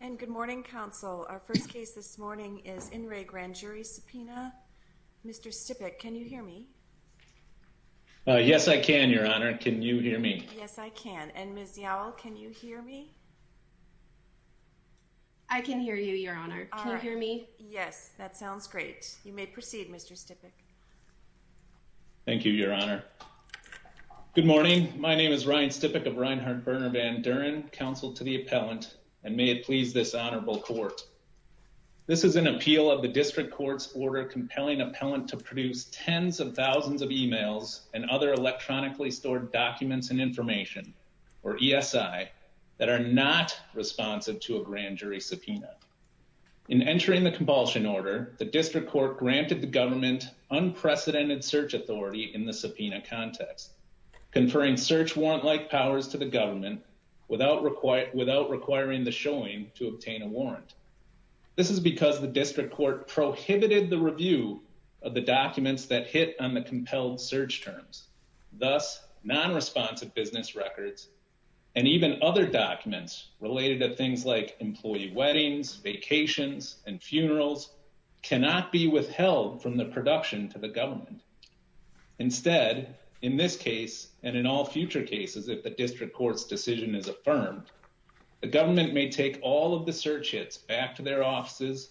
And good morning, Counsel. Our first case this morning is In Re Grand Jury Subpoena. Mr. Stipik, can you hear me? Yes, I can, Your Honor. Can you hear me? Yes, I can. And Ms. Yowell, can you hear me? I can hear you, Your Honor. Can you hear me? Yes, that sounds great. You may proceed, Mr. Stipik. Thank you, Your Honor. Good morning. My name is Ryan Stipik of Reinhart-Berner Van Duren, Counsel to the Appellant, and may it please this Honorable Court. This is an appeal of the District Court's order compelling Appellant to produce tens of thousands of emails and other electronically stored documents and information, or ESI, that are not responsive to a grand jury subpoena. In entering the compulsion order, the District Court granted the government unprecedented search authority in the subpoena context, conferring search warrant-like powers to the government without requiring the showing to obtain a warrant. This is because the District Court prohibited the review of the documents that hit on the compelled search terms, thus non-responsive business records, and even other documents related to things like employee weddings, vacations, and funerals, cannot be withheld from the production to the government. Instead, in this case, and in all future cases if the District Court's decision is affirmed, the government may take all of the search hits back to their offices,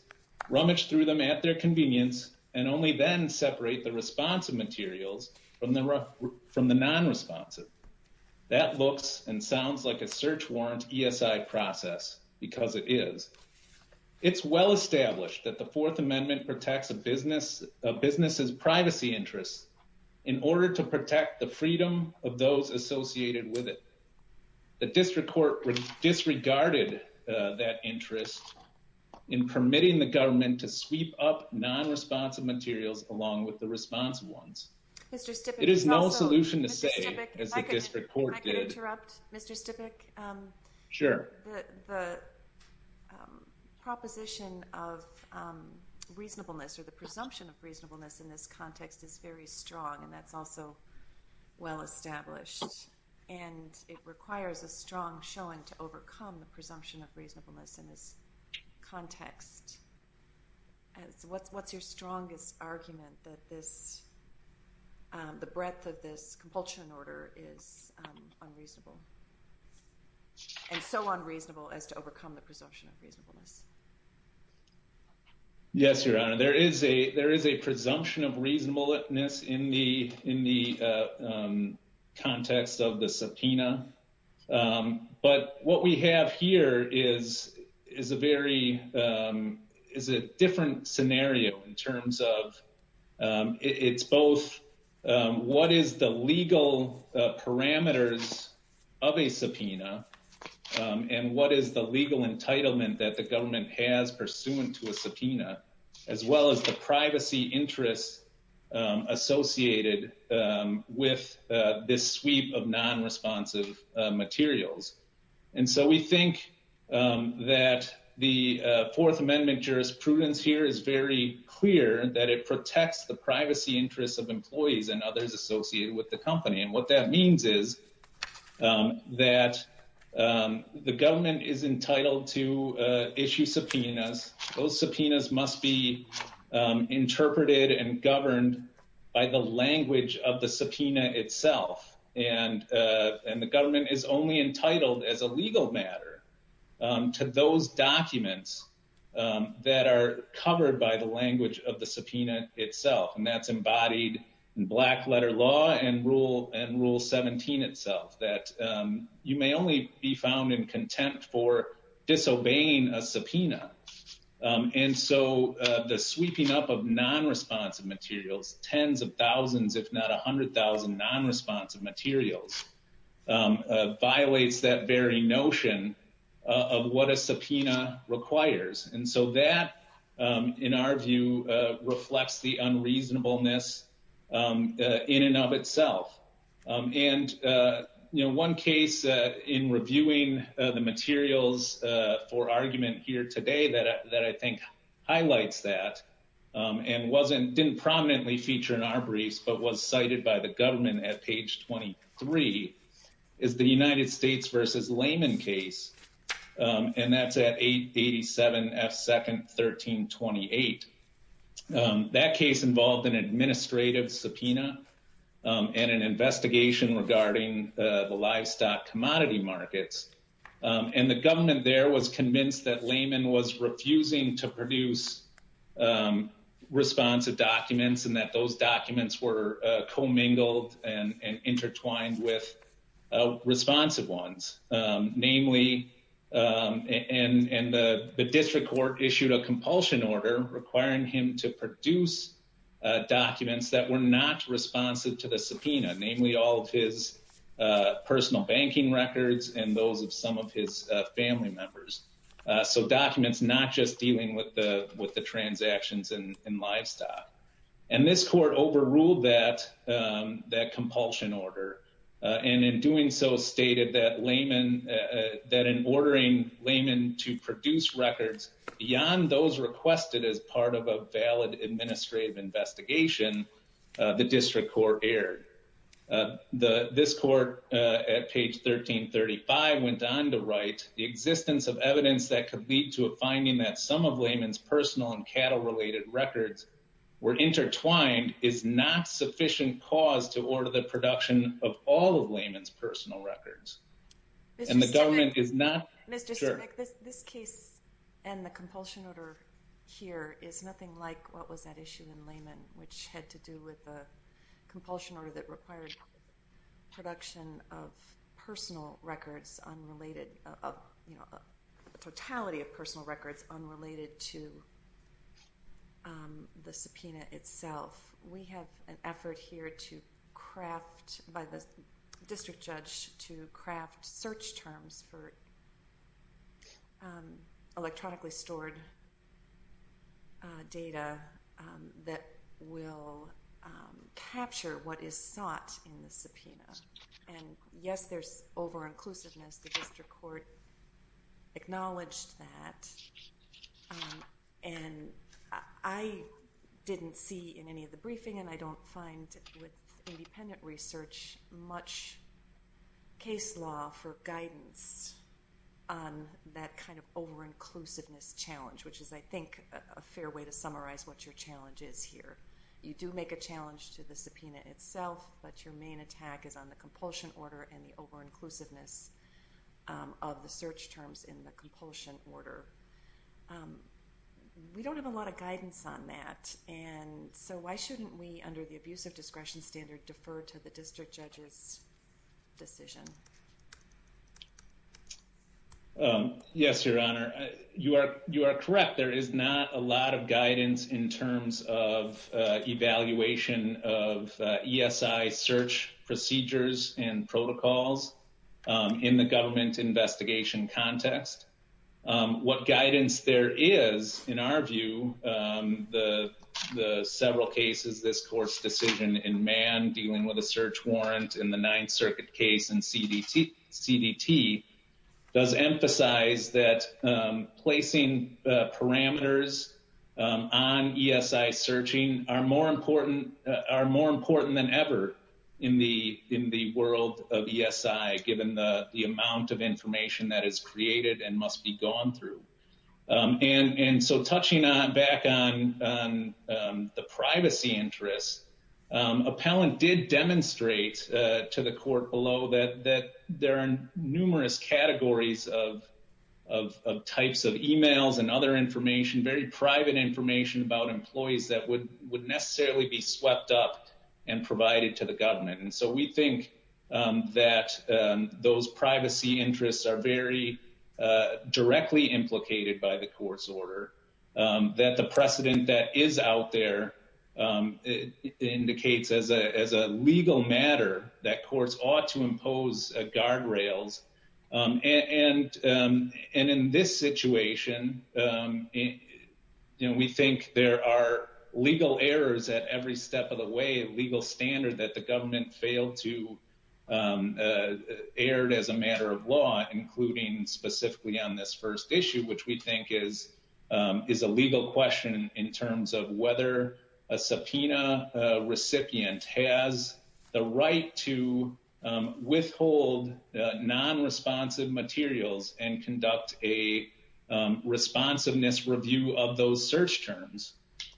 rummage through them at their convenience, and only then separate the responsive materials from the non-responsive. That looks and sounds like a search warrant ESI process, because it is. It's well established that the Fourth Amendment protects a business's privacy interests in order to protect the freedom of those associated with it. The District Court disregarded that interest in permitting the government to sweep up non-responsive materials along with the responsive ones. It is no solution to save, as the District Court did. If I could interrupt, Mr. Stipik? Sure. The proposition of reasonableness, or the presumption of reasonableness in this context is very strong, and that's also well established. And it requires a strong showing to overcome the presumption of reasonableness in this context. What's your strongest argument that the breadth of this compulsion order is unreasonable, and so unreasonable as to overcome the presumption of reasonableness? Yes, Your Honor. There is a presumption of reasonableness in the context of the subpoena. But what we have here is a very different scenario in terms of it's both what is the legal parameters of a subpoena, and what is the legal entitlement that the government has pursuant to a subpoena, as well as the privacy interests associated with this sweep of non-responsive materials. And so we think that the Fourth Amendment jurisprudence here is very clear, that it protects the privacy interests of employees and others associated with the company. And what that means is that the government is entitled to issue subpoenas. Those subpoenas must be interpreted and governed by the language of the subpoena itself. And the government is only entitled as a legal matter to those documents that are covered by the language of the subpoena itself. And that's embodied in Black Letter Law and Rule 17 itself, that you may only be found in contempt for disobeying a subpoena. And so the sweeping up of non-responsive materials, tens of thousands if not a hundred thousand non-responsive materials, violates that very notion of what a subpoena requires. And so that, in our view, reflects the unreasonableness in and of itself. And one case in reviewing the materials for argument here today that I think highlights that, and didn't prominently feature in our briefs, but was cited by the government at page 23, is the United States v. Lehman case. And that's at 887 F. 2nd 1328. That case involved an administrative subpoena and an investigation regarding the livestock commodity markets. And the government there was convinced that Lehman was refusing to produce responsive documents and that those documents were commingled and intertwined with responsive ones. Namely, and the district court issued a compulsion order requiring him to produce documents that were not responsive to the subpoena, namely all of his personal banking records and those of some of his family members. So documents not just dealing with the transactions in livestock. And this court overruled that compulsion order and in doing so stated that Lehman, that in ordering Lehman to produce records beyond those requested as part of a valid administrative investigation, the district court erred. This court at page 1335 went on to write, the existence of evidence that could lead to a finding that some of Lehman's personal and cattle-related records were intertwined is not sufficient cause to order the production of all of Lehman's personal records. And the government is not sure. This case and the compulsion order here is nothing like what was at issue in Lehman, which had to do with a compulsion order that required production of personal records, a totality of personal records unrelated to the subpoena itself. We have an effort here to craft, by the district judge, to craft search terms for electronically stored data that will capture what is sought in the subpoena. And, yes, there's over-inclusiveness. The district court acknowledged that. And I didn't see in any of the briefing, and I don't find with independent research, much case law for guidance on that kind of over-inclusiveness challenge, which is, I think, a fair way to summarize what your challenge is here. You do make a challenge to the subpoena itself, but your main attack is on the compulsion order and the over-inclusiveness of the search terms in the compulsion order. We don't have a lot of guidance on that. And so why shouldn't we, under the abusive discretion standard, defer to the district judge's decision? Yes, Your Honor, you are correct. There is not a lot of guidance in terms of evaluation of ESI search procedures and protocols in the government investigation context. What guidance there is, in our view, the several cases, this court's decision in Mann, dealing with a search warrant in the Ninth Circuit case in CDT, does emphasize that placing parameters on ESI searching are more important than ever in the world of ESI, given the amount of information that is created and must be gone through. And so touching back on the privacy interests, appellant did demonstrate to the court below that there are numerous categories of types of e-mails and other information, very private information about employees that would necessarily be swept up and provided to the government. And so we think that those privacy interests are very directly implicated by the court's order, that the precedent that is out there indicates as a legal matter that courts ought to impose guardrails. And in this situation, we think there are legal errors at every step of the way, a legal standard that the government failed to air as a matter of law, including specifically on this first issue, which we think is a legal question in terms of whether a subpoena recipient has the right to withhold non-responsive materials and conduct a responsiveness review of those search terms.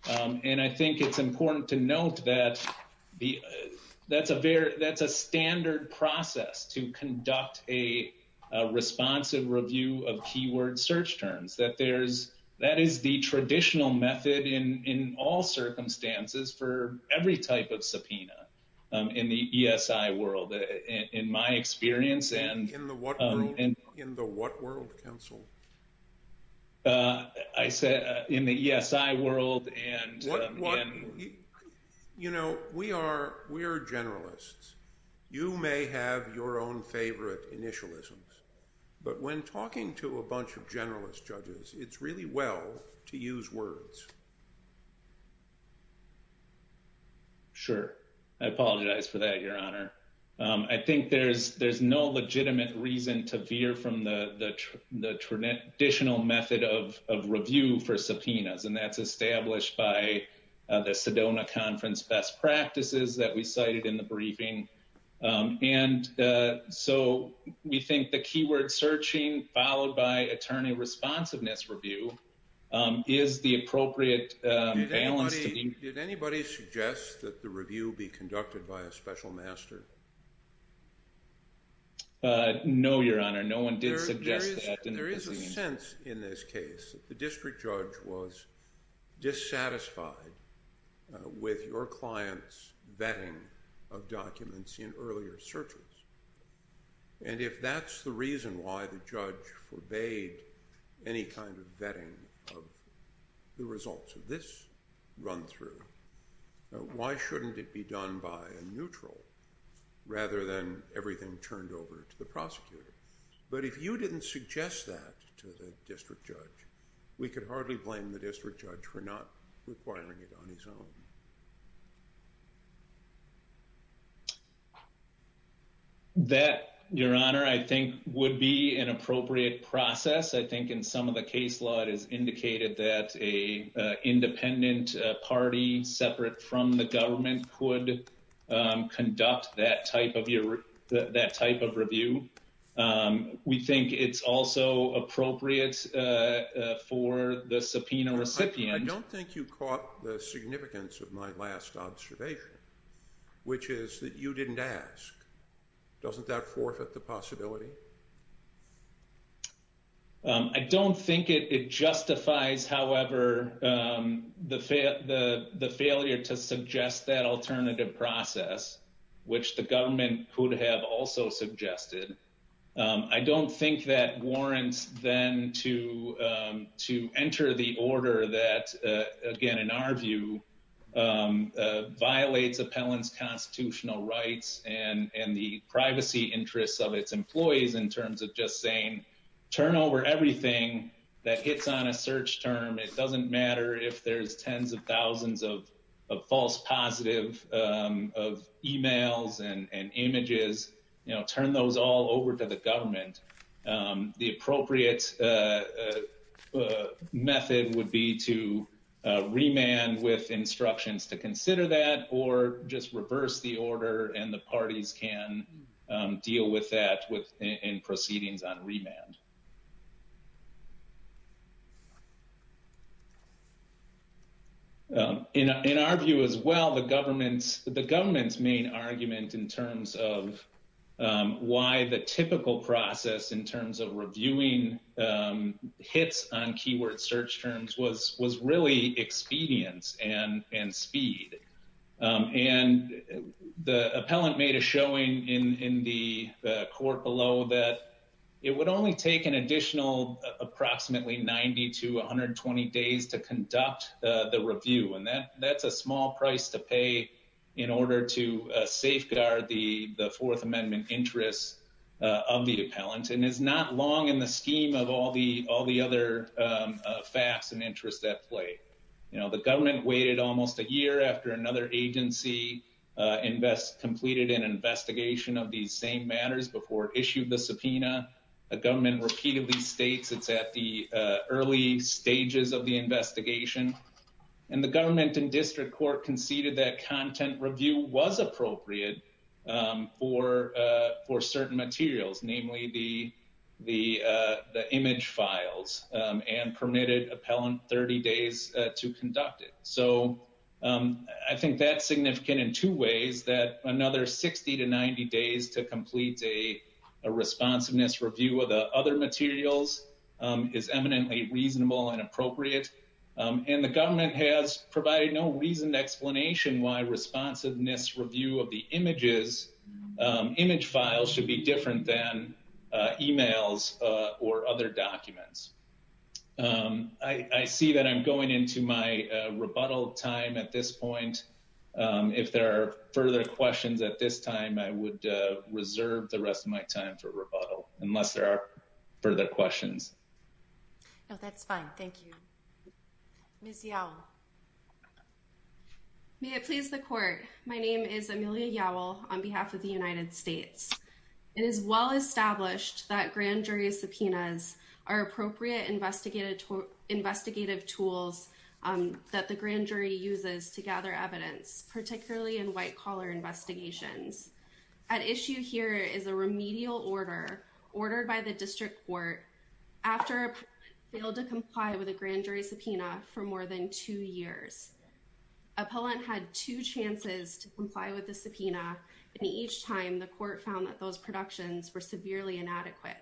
And I think it's important to note that that's a standard process to conduct a responsive review of keyword search terms, that is the traditional method in all circumstances for every type of subpoena in the ESI world, in my experience. In the what world? In the what world, counsel? I said in the ESI world. You know, we are generalists. You may have your own favorite initialisms. But when talking to a bunch of generalist judges, it's really well to use words. Sure. I apologize for that, Your Honor. I think there's there's no legitimate reason to veer from the traditional method of review for subpoenas, and that's established by the Sedona Conference best practices that we cited in the briefing. And so we think the keyword searching followed by attorney responsiveness review is the appropriate balance. Did anybody suggest that the review be conducted by a special master? No, Your Honor. No one did suggest that. There is a sense in this case that the district judge was dissatisfied with your client's vetting of documents in earlier searches. And if that's the reason why the judge forbade any kind of vetting of the results of this run through, why shouldn't it be done by a neutral rather than everything turned over to the prosecutor? But if you didn't suggest that to the district judge, we could hardly blame the district judge for not requiring it on his own. That, Your Honor, I think would be an appropriate process. I think in some of the case law it is indicated that a independent party separate from the government could conduct that type of review. We think it's also appropriate for the subpoena recipient. I don't think you caught the significance of my last observation, which is that you didn't ask. Doesn't that forfeit the possibility? I don't think it justifies, however, the failure to suggest that alternative process, which the government could have also suggested. I don't think that warrants then to to enter the order that, again, in our view, violates appellant's constitutional rights and the privacy interests of its employees in terms of just saying turn over everything that hits on a search term. It doesn't matter if there's tens of thousands of false positive of emails and images, you know, turn those all over to the government. The appropriate method would be to remand with instructions to consider that or just reverse the order and the parties can deal with that within proceedings on remand. In our view as well, the government's main argument in terms of why the typical process in terms of reviewing hits on keyword search terms was really expedience and speed. And the appellant made a showing in the court below that it would only take an additional approximately 90 to 120 days to conduct the review. And that that's a small price to pay in order to safeguard the Fourth Amendment interests of the appellant and is not long in the scheme of all the all the other facts and interests that play. You know, the government waited almost a year after another agency invest completed an investigation of these same matters before issued the subpoena. A government repeatedly states it's at the early stages of the investigation and the government and district court conceded that content review was appropriate for for certain materials, namely the the the image files and permitted appellant 30 days to conduct it. So I think that's significant in two ways that another 60 to 90 days to complete a responsiveness review of the other materials is eminently reasonable and appropriate. And the government has provided no reason explanation why responsiveness review of the images image files should be different than emails or other documents. I see that I'm going into my rebuttal time at this point. If there are further questions at this time, I would reserve the rest of my time for rebuttal unless there are further questions. No, that's fine. Thank you. Yeah. May it please the court. My name is Amelia. Yeah. Well, on behalf of the United States. It is well established that grand jury subpoenas are appropriate investigative investigative tools that the grand jury uses to gather evidence, particularly in white collar investigations. At issue here is a remedial order ordered by the district court after failed to comply with a grand jury subpoena for more than two years. Appellant had two chances to comply with the subpoena. And each time the court found that those productions were severely inadequate.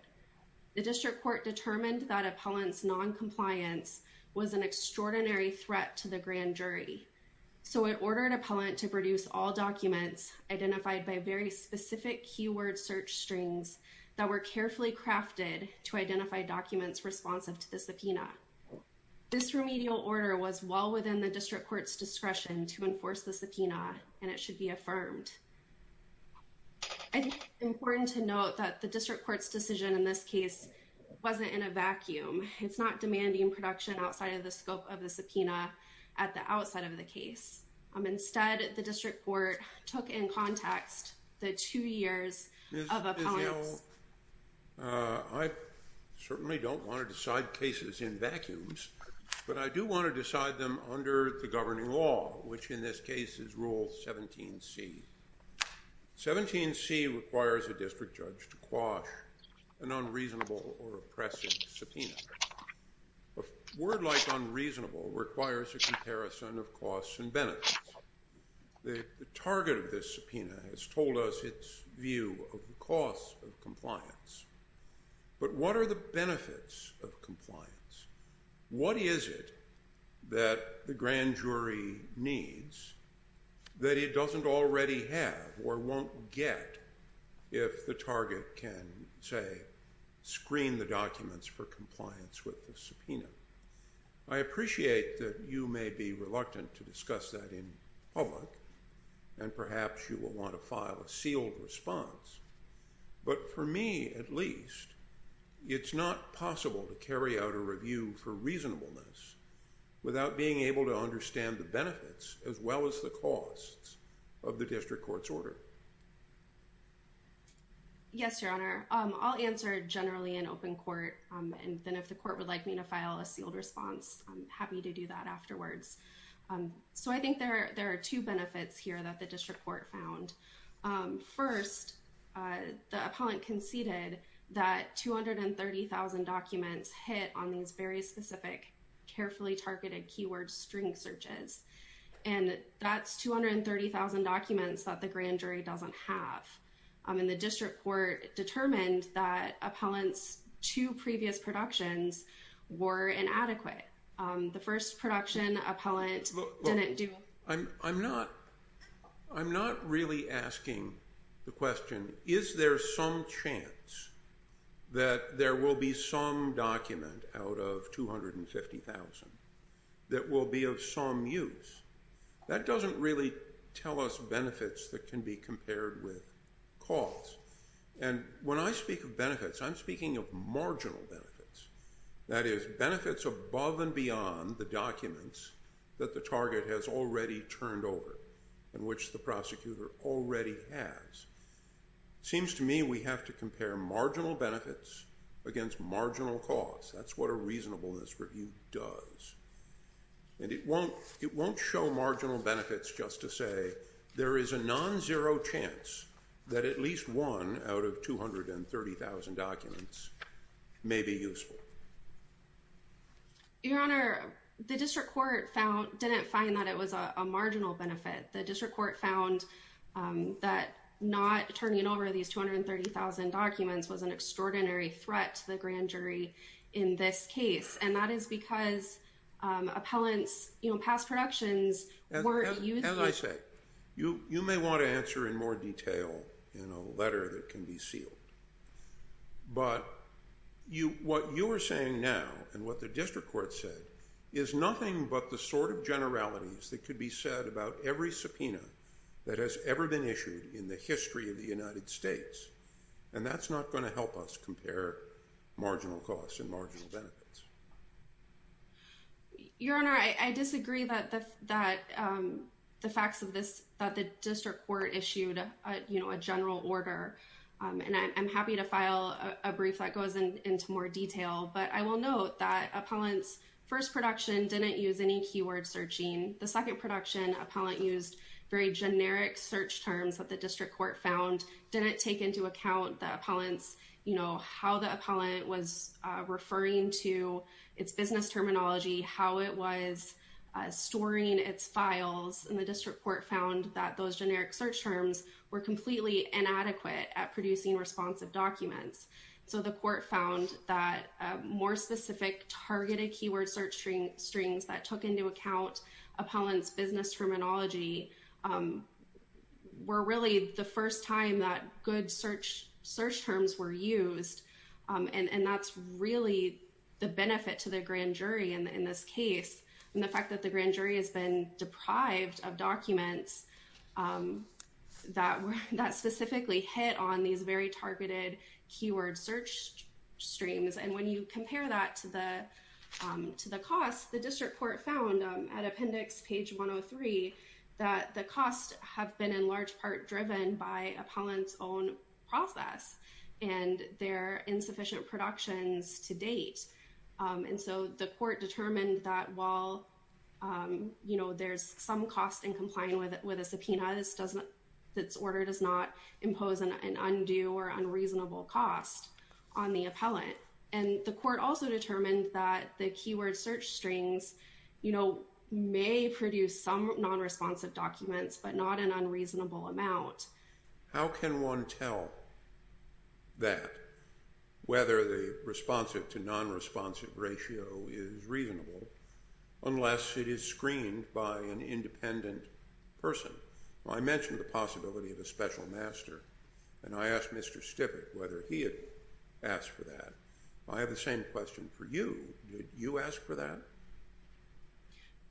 The district court determined that appellants noncompliance was an extraordinary threat to the grand jury. So it ordered appellant to produce all documents identified by very specific keyword search strings that were carefully crafted to identify documents responsive to the subpoena. This remedial order was well within the district court's discretion to enforce the subpoena, and it should be affirmed. I think it's important to note that the district court's decision in this case wasn't in a vacuum. It's not demanding production outside of the scope of the subpoena at the outside of the case. Instead, the district court took in context the two years of appellant. Well, I certainly don't want to decide cases in vacuums, but I do want to decide them under the governing law, which in this case is rule 17C. 17C requires a district judge to quash an unreasonable or oppressive subpoena. A word like unreasonable requires a comparison of costs and benefits. The target of this subpoena has told us its view of the costs of compliance, but what are the benefits of compliance? What is it that the grand jury needs that it doesn't already have or won't get if the target can, say, screen the documents for compliance with the subpoena? I appreciate that you may be reluctant to discuss that in public, and perhaps you will want to file a sealed response. But for me, at least, it's not possible to carry out a review for reasonableness without being able to understand the benefits as well as the costs of the district court's order. Yes, Your Honor. I'll answer generally in open court, and then if the court would like me to file a sealed response, I'm happy to do that afterwards. So I think there are two benefits here that the district court found. First, the appellant conceded that 230,000 documents hit on these very specific, carefully targeted keyword string searches, and that's 230,000 documents that the grand jury doesn't have. And the district court determined that appellant's two previous productions were inadequate. The first production, appellant didn't do… I'm not really asking the question, is there some chance that there will be some document out of 250,000 that will be of some use? That doesn't really tell us benefits that can be compared with costs. And when I speak of benefits, I'm speaking of marginal benefits. That is, benefits above and beyond the documents that the target has already turned over and which the prosecutor already has. It seems to me we have to compare marginal benefits against marginal costs. That's what a reasonableness review does. And it won't show marginal benefits just to say there is a non-zero chance that at least one out of 230,000 documents may be useful. Your Honor, the district court didn't find that it was a marginal benefit. The district court found that not turning over these 230,000 documents was an extraordinary threat to the grand jury in this case. And that is because appellant's past productions weren't useful. As I said, you may want to answer in more detail in a letter that can be sealed. But what you are saying now and what the district court said is nothing but the sort of generalities that could be said about every subpoena that has ever been issued in the history of the United States. And that's not going to help us compare marginal costs and marginal benefits. Your Honor, I disagree that the facts of this, that the district court issued a general order. And I'm happy to file a brief that goes into more detail. But I will note that appellant's first production didn't use any keyword searching. The second production, appellant used very generic search terms that the district court found didn't take into account the appellant's, you know, how the appellant was referring to its business terminology, how it was storing its files. And the district court found that those generic search terms were completely inadequate at producing responsive documents. So the court found that more specific targeted keyword searching strings that took into account appellant's business terminology were really the first time that good search terms were used. And that's really the benefit to the grand jury in this case. And the fact that the grand jury has been deprived of documents that specifically hit on these very targeted keyword search streams. And when you compare that to the cost, the district court found at appendix page 103 that the costs have been in large part driven by appellant's own process and their insufficient productions to date. And so the court determined that while, you know, there's some cost in complying with a subpoena, this doesn't, this order does not impose an undue or unreasonable cost on the appellant. And the court also determined that the keyword search strings, you know, may produce some non-responsive documents, but not an unreasonable amount. How can one tell that whether the responsive to non-responsive ratio is reasonable unless it is screened by an independent person? I mentioned the possibility of a special master, and I asked Mr. Stippett whether he had asked for that. I have the same question for you. Did you ask for that?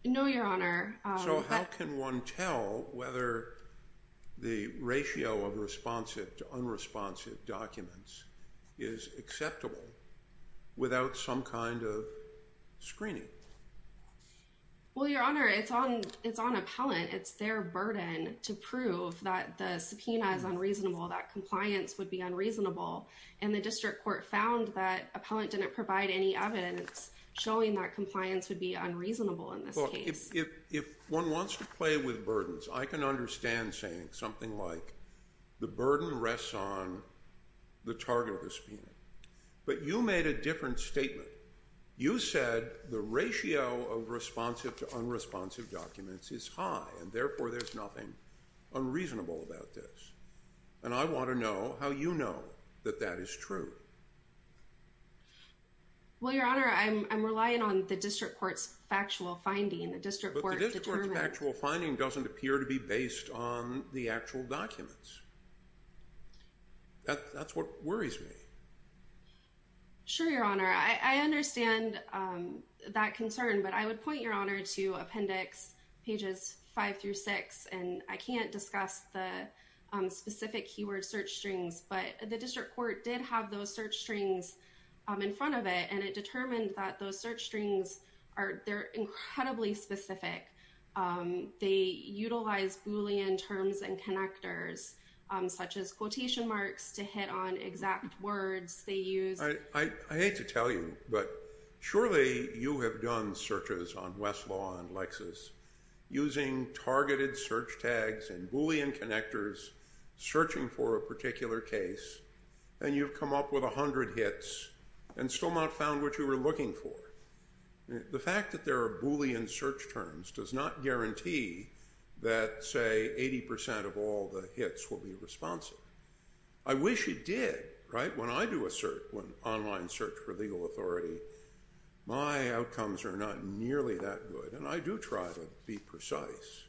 No, Your Honor. So how can one tell whether the ratio of responsive to unresponsive documents is acceptable without some kind of screening? Well, Your Honor, it's on appellant. It's their burden to prove that the subpoena is unreasonable, that compliance would be unreasonable. And the district court found that appellant didn't provide any evidence showing that compliance would be unreasonable in this case. Look, if one wants to play with burdens, I can understand saying something like the burden rests on the target of the subpoena. But you made a different statement. You said the ratio of responsive to unresponsive documents is high, and therefore there's nothing unreasonable about this. And I want to know how you know that that is true. Well, Your Honor, I'm relying on the district court's factual finding. But the district court's factual finding doesn't appear to be based on the actual documents. That's what worries me. Sure, Your Honor, I understand that concern, but I would point Your Honor to appendix pages five through six, and I can't discuss the specific keyword search strings. But the district court did have those search strings in front of it, and it determined that those search strings are incredibly specific. They utilize Boolean terms and connectors, such as quotation marks, to hit on exact words they use. I hate to tell you, but surely you have done searches on Westlaw and Lexis using targeted search tags and Boolean connectors, searching for a particular case, and you've come up with 100 hits and still not found what you were looking for. The fact that there are Boolean search terms does not guarantee that, say, 80 percent of all the hits will be responsive. I wish it did, right? When I do an online search for legal authority, my outcomes are not nearly that good, and I do try to be precise.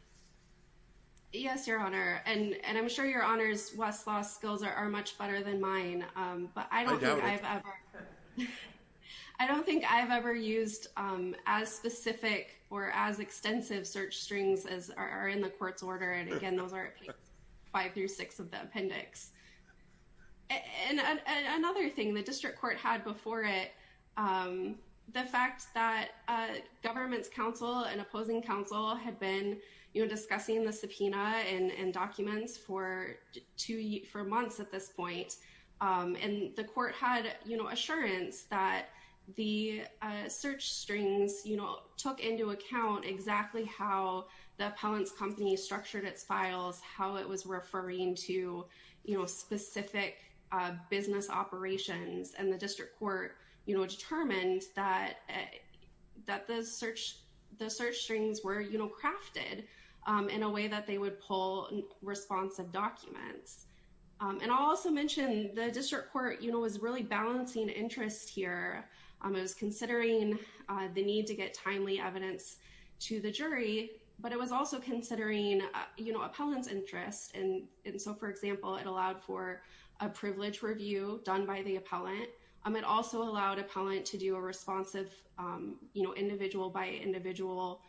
Yes, Your Honor, and I'm sure Your Honor's Westlaw skills are much better than mine. I doubt it. I don't think I've ever used as specific or as extensive search strings as are in the court's order, and again, those are at pages five through six of the appendix. And another thing the district court had before it, the fact that government's counsel and opposing counsel had been discussing the subpoena and documents for months at this point, and the court had assurance that the search strings took into account exactly how the appellant's company structured its files, how it was referring to specific business operations, and the district court determined that the search strings were crafted in a way that they would pull responsive documents. And I'll also mention the district court was really balancing interest here. It was considering the need to get timely evidence to the jury, but it was also considering appellant's interest. And so, for example, it allowed for a privilege review done by the appellant. It also allowed appellant to do a responsive individual-by-individual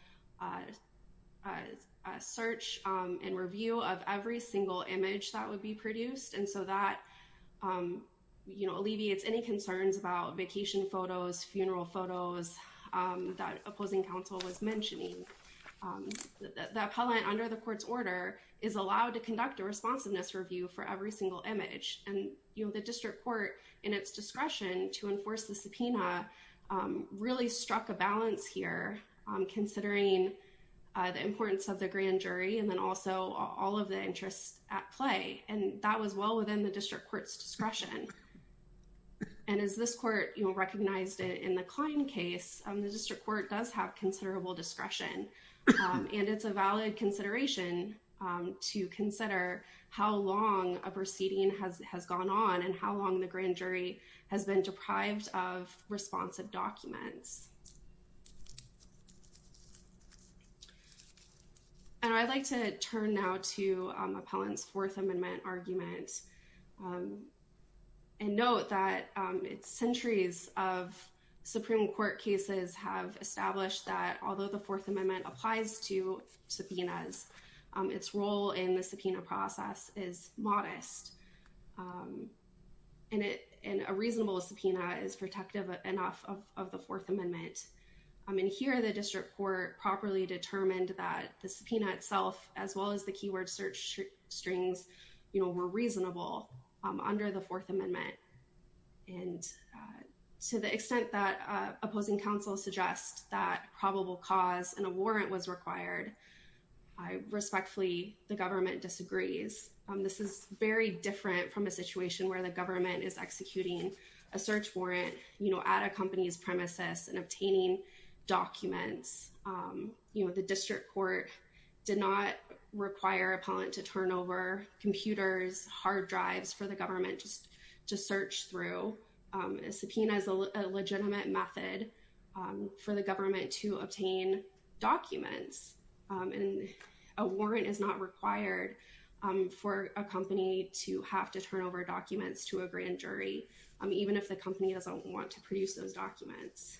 search and review of every single image that would be produced, and so that alleviates any concerns about vacation photos, funeral photos that opposing counsel was mentioning. The appellant, under the court's order, is allowed to conduct a responsiveness review for every single image, and the district court, in its discretion to enforce the subpoena, really struck a balance here, considering the importance of the grand jury and then also all of the interests at play, and that was well within the district court's discretion. And as this court recognized in the Klein case, the district court does have considerable discretion, and it's a valid consideration to consider how long a proceeding has gone on and how long the grand jury has been deprived of responsive documents. And I'd like to turn now to appellant's Fourth Amendment argument and note that centuries of Supreme Court cases have established that although the Fourth Amendment applies to subpoenas, its role in the subpoena process is modest, and a reasonable subpoena is protective enough of the Fourth Amendment. And here, the district court properly determined that the subpoena itself, as well as the keyword search strings, were reasonable under the Fourth Amendment, and to the extent that opposing counsel suggests that probable cause and a warrant was required, I respectfully, the government disagrees. This is very different from a situation where the government is executing a search warrant, you know, at a company's premises and obtaining documents. You know, the district court did not require appellant to turn over computers, hard drives for the government just to search through. A subpoena is a legitimate method for the government to obtain documents, and a warrant is not required for a company to have to turn over documents to a grand jury, even if the company doesn't want to produce those documents.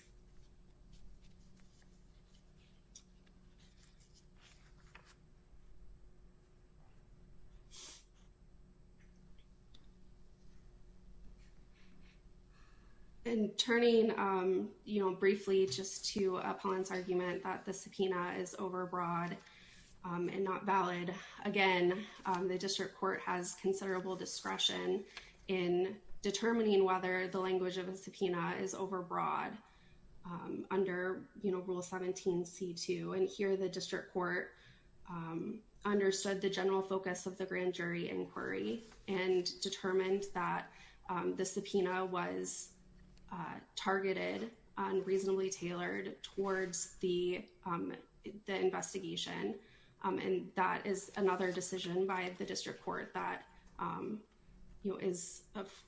And turning, you know, briefly just to appellant's argument that the subpoena is overbroad and not valid, again, the district court has considerable discretion in determining whether the language of a subpoena is overbroad. Under, you know, Rule 17C2, and here the district court understood the general focus of the grand jury inquiry and determined that the subpoena was targeted and reasonably tailored towards the investigation, and that is another decision by the district court that, you know, is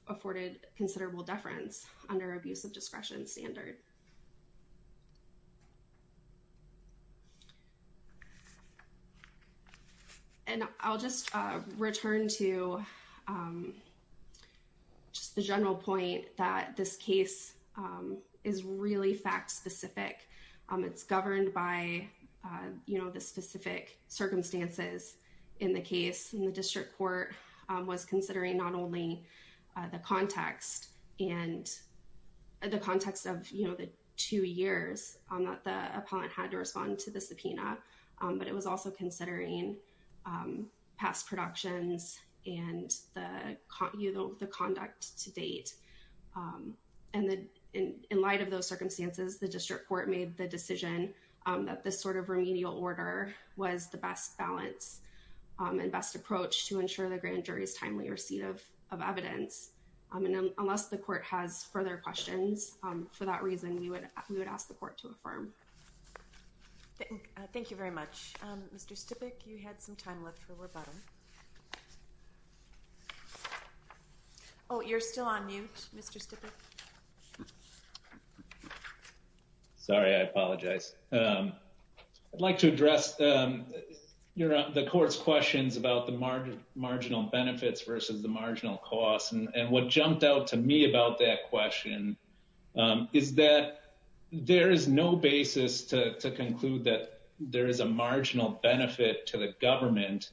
afforded considerable deference under abuse of discretion standard. And I'll just return to just the general point that this case is really fact specific. It's governed by, you know, the specific circumstances in the case, and the district court was considering not only the context and the context of, you know, the two years that the appellant had to respond to the subpoena, but it was also considering past productions and the conduct to date. And in light of those circumstances, the district court made the decision that this sort of remedial order was the best balance and best approach to ensure the grand jury's timely receipt of evidence. And unless the court has further questions for that reason, we would ask the court to affirm. Thank you very much. Mr. Stipik, you had some time left for rebuttal. Oh, you're still on mute, Mr. Stipik. Sorry, I apologize. I'd like to address the court's questions about the marginal benefits versus the marginal costs. And what jumped out to me about that question is that there is no basis to conclude that there is a marginal benefit to the government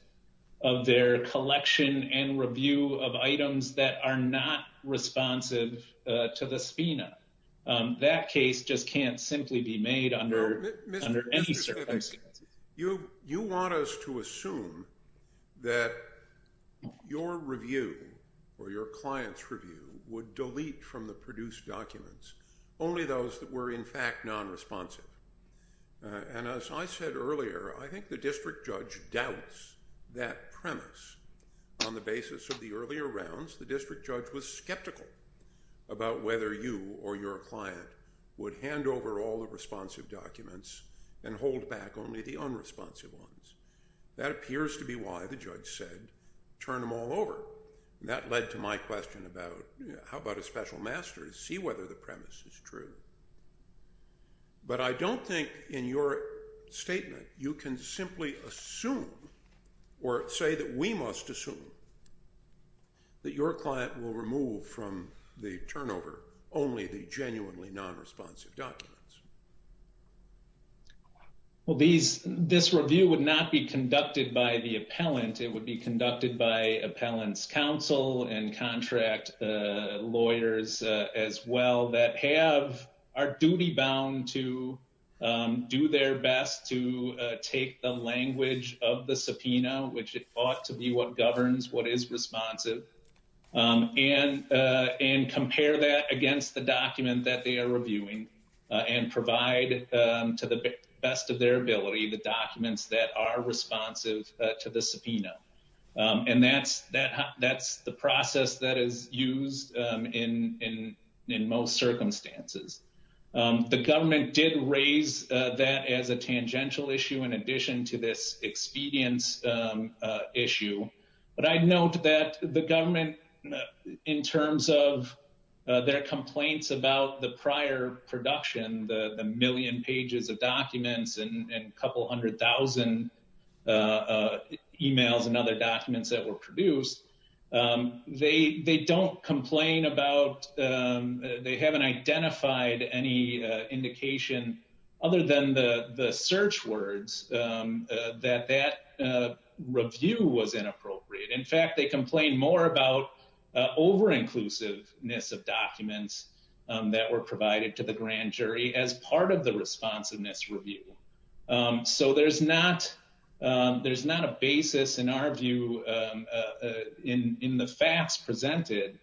of their collection and review of items that are not responsive to the subpoena. That case just can't simply be made under any circumstances. Mr. Stipik, you want us to assume that your review or your client's review would delete from the produced documents only those that were in fact non-responsive. And as I said earlier, I think the district judge doubts that premise. On the basis of the earlier rounds, the district judge was skeptical about whether you or your client would hand over all the responsive documents and hold back only the unresponsive ones. That appears to be why the judge said turn them all over. And that led to my question about how about a special master to see whether the premise is true. But I don't think in your statement you can simply assume or say that we must assume that your client will remove from the turnover only the genuinely non-responsive documents. Well, this review would not be conducted by the appellant. It would be conducted by appellant's counsel and contract lawyers as well that are duty-bound to do their best to take the language of the subpoena, which ought to be what governs what is responsive, and compare that against the document that they are reviewing and provide to the best of their ability the documents that are responsive to the subpoena. And that's the process that is used in most circumstances. The government did raise that as a tangential issue in addition to this expedience issue. But I note that the government in terms of their complaints about the prior production, the million pages of documents and a couple hundred thousand emails and other documents that were produced, they don't complain about, they haven't identified any indication other than the search words that that review was inappropriate. In fact, they complain more about over-inclusiveness of documents that were provided to the grand jury as part of the responsiveness review. So there's not a basis in our view in the facts presented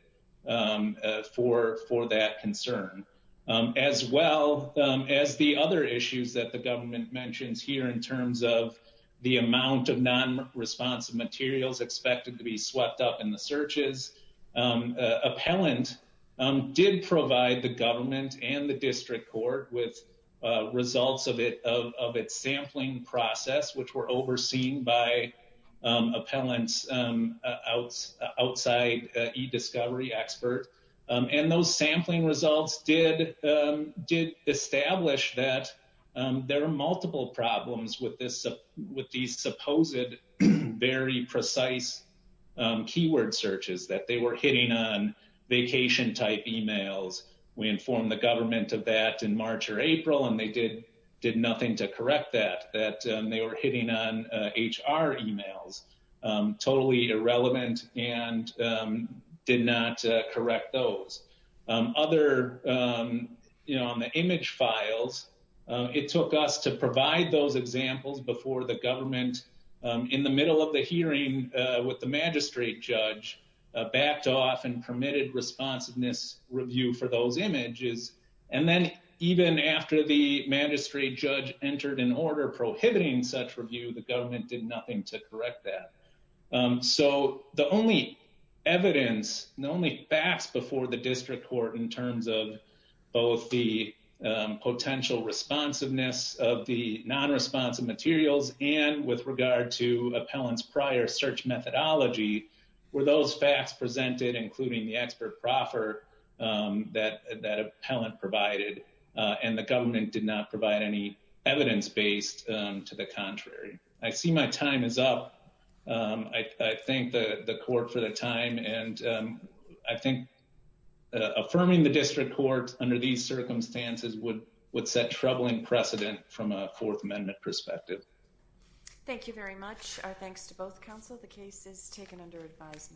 for that concern, as well as the other issues that the government mentions here in terms of the amount of non-responsive materials expected to be swept up in the searches. Appellant did provide the government and the district court with results of its sampling process, which were overseen by appellants outside e-discovery expert. And those sampling results did establish that there are multiple problems with these supposed very precise keyword searches, that they were hitting on vacation-type emails. We informed the government of that in March or April, and they did nothing to correct that, that they were hitting on HR emails, totally irrelevant, and did not correct those. Other, you know, on the image files, it took us to provide those examples before the government, in the middle of the hearing with the magistrate judge, backed off and permitted responsiveness review for those images. And then even after the magistrate judge entered an order prohibiting such review, the government did nothing to correct that. So the only evidence, the only facts before the district court in terms of both the potential responsiveness of the non-responsive materials and with regard to appellants' prior search methodology were those facts presented, including the expert proffer that appellant provided. And the government did not provide any evidence-based to the contrary. I see my time is up. I thank the court for the time. And I think affirming the district court under these circumstances would set troubling precedent from a Fourth Amendment perspective. Thank you very much. Our thanks to both counsel. The case is taken under advisement.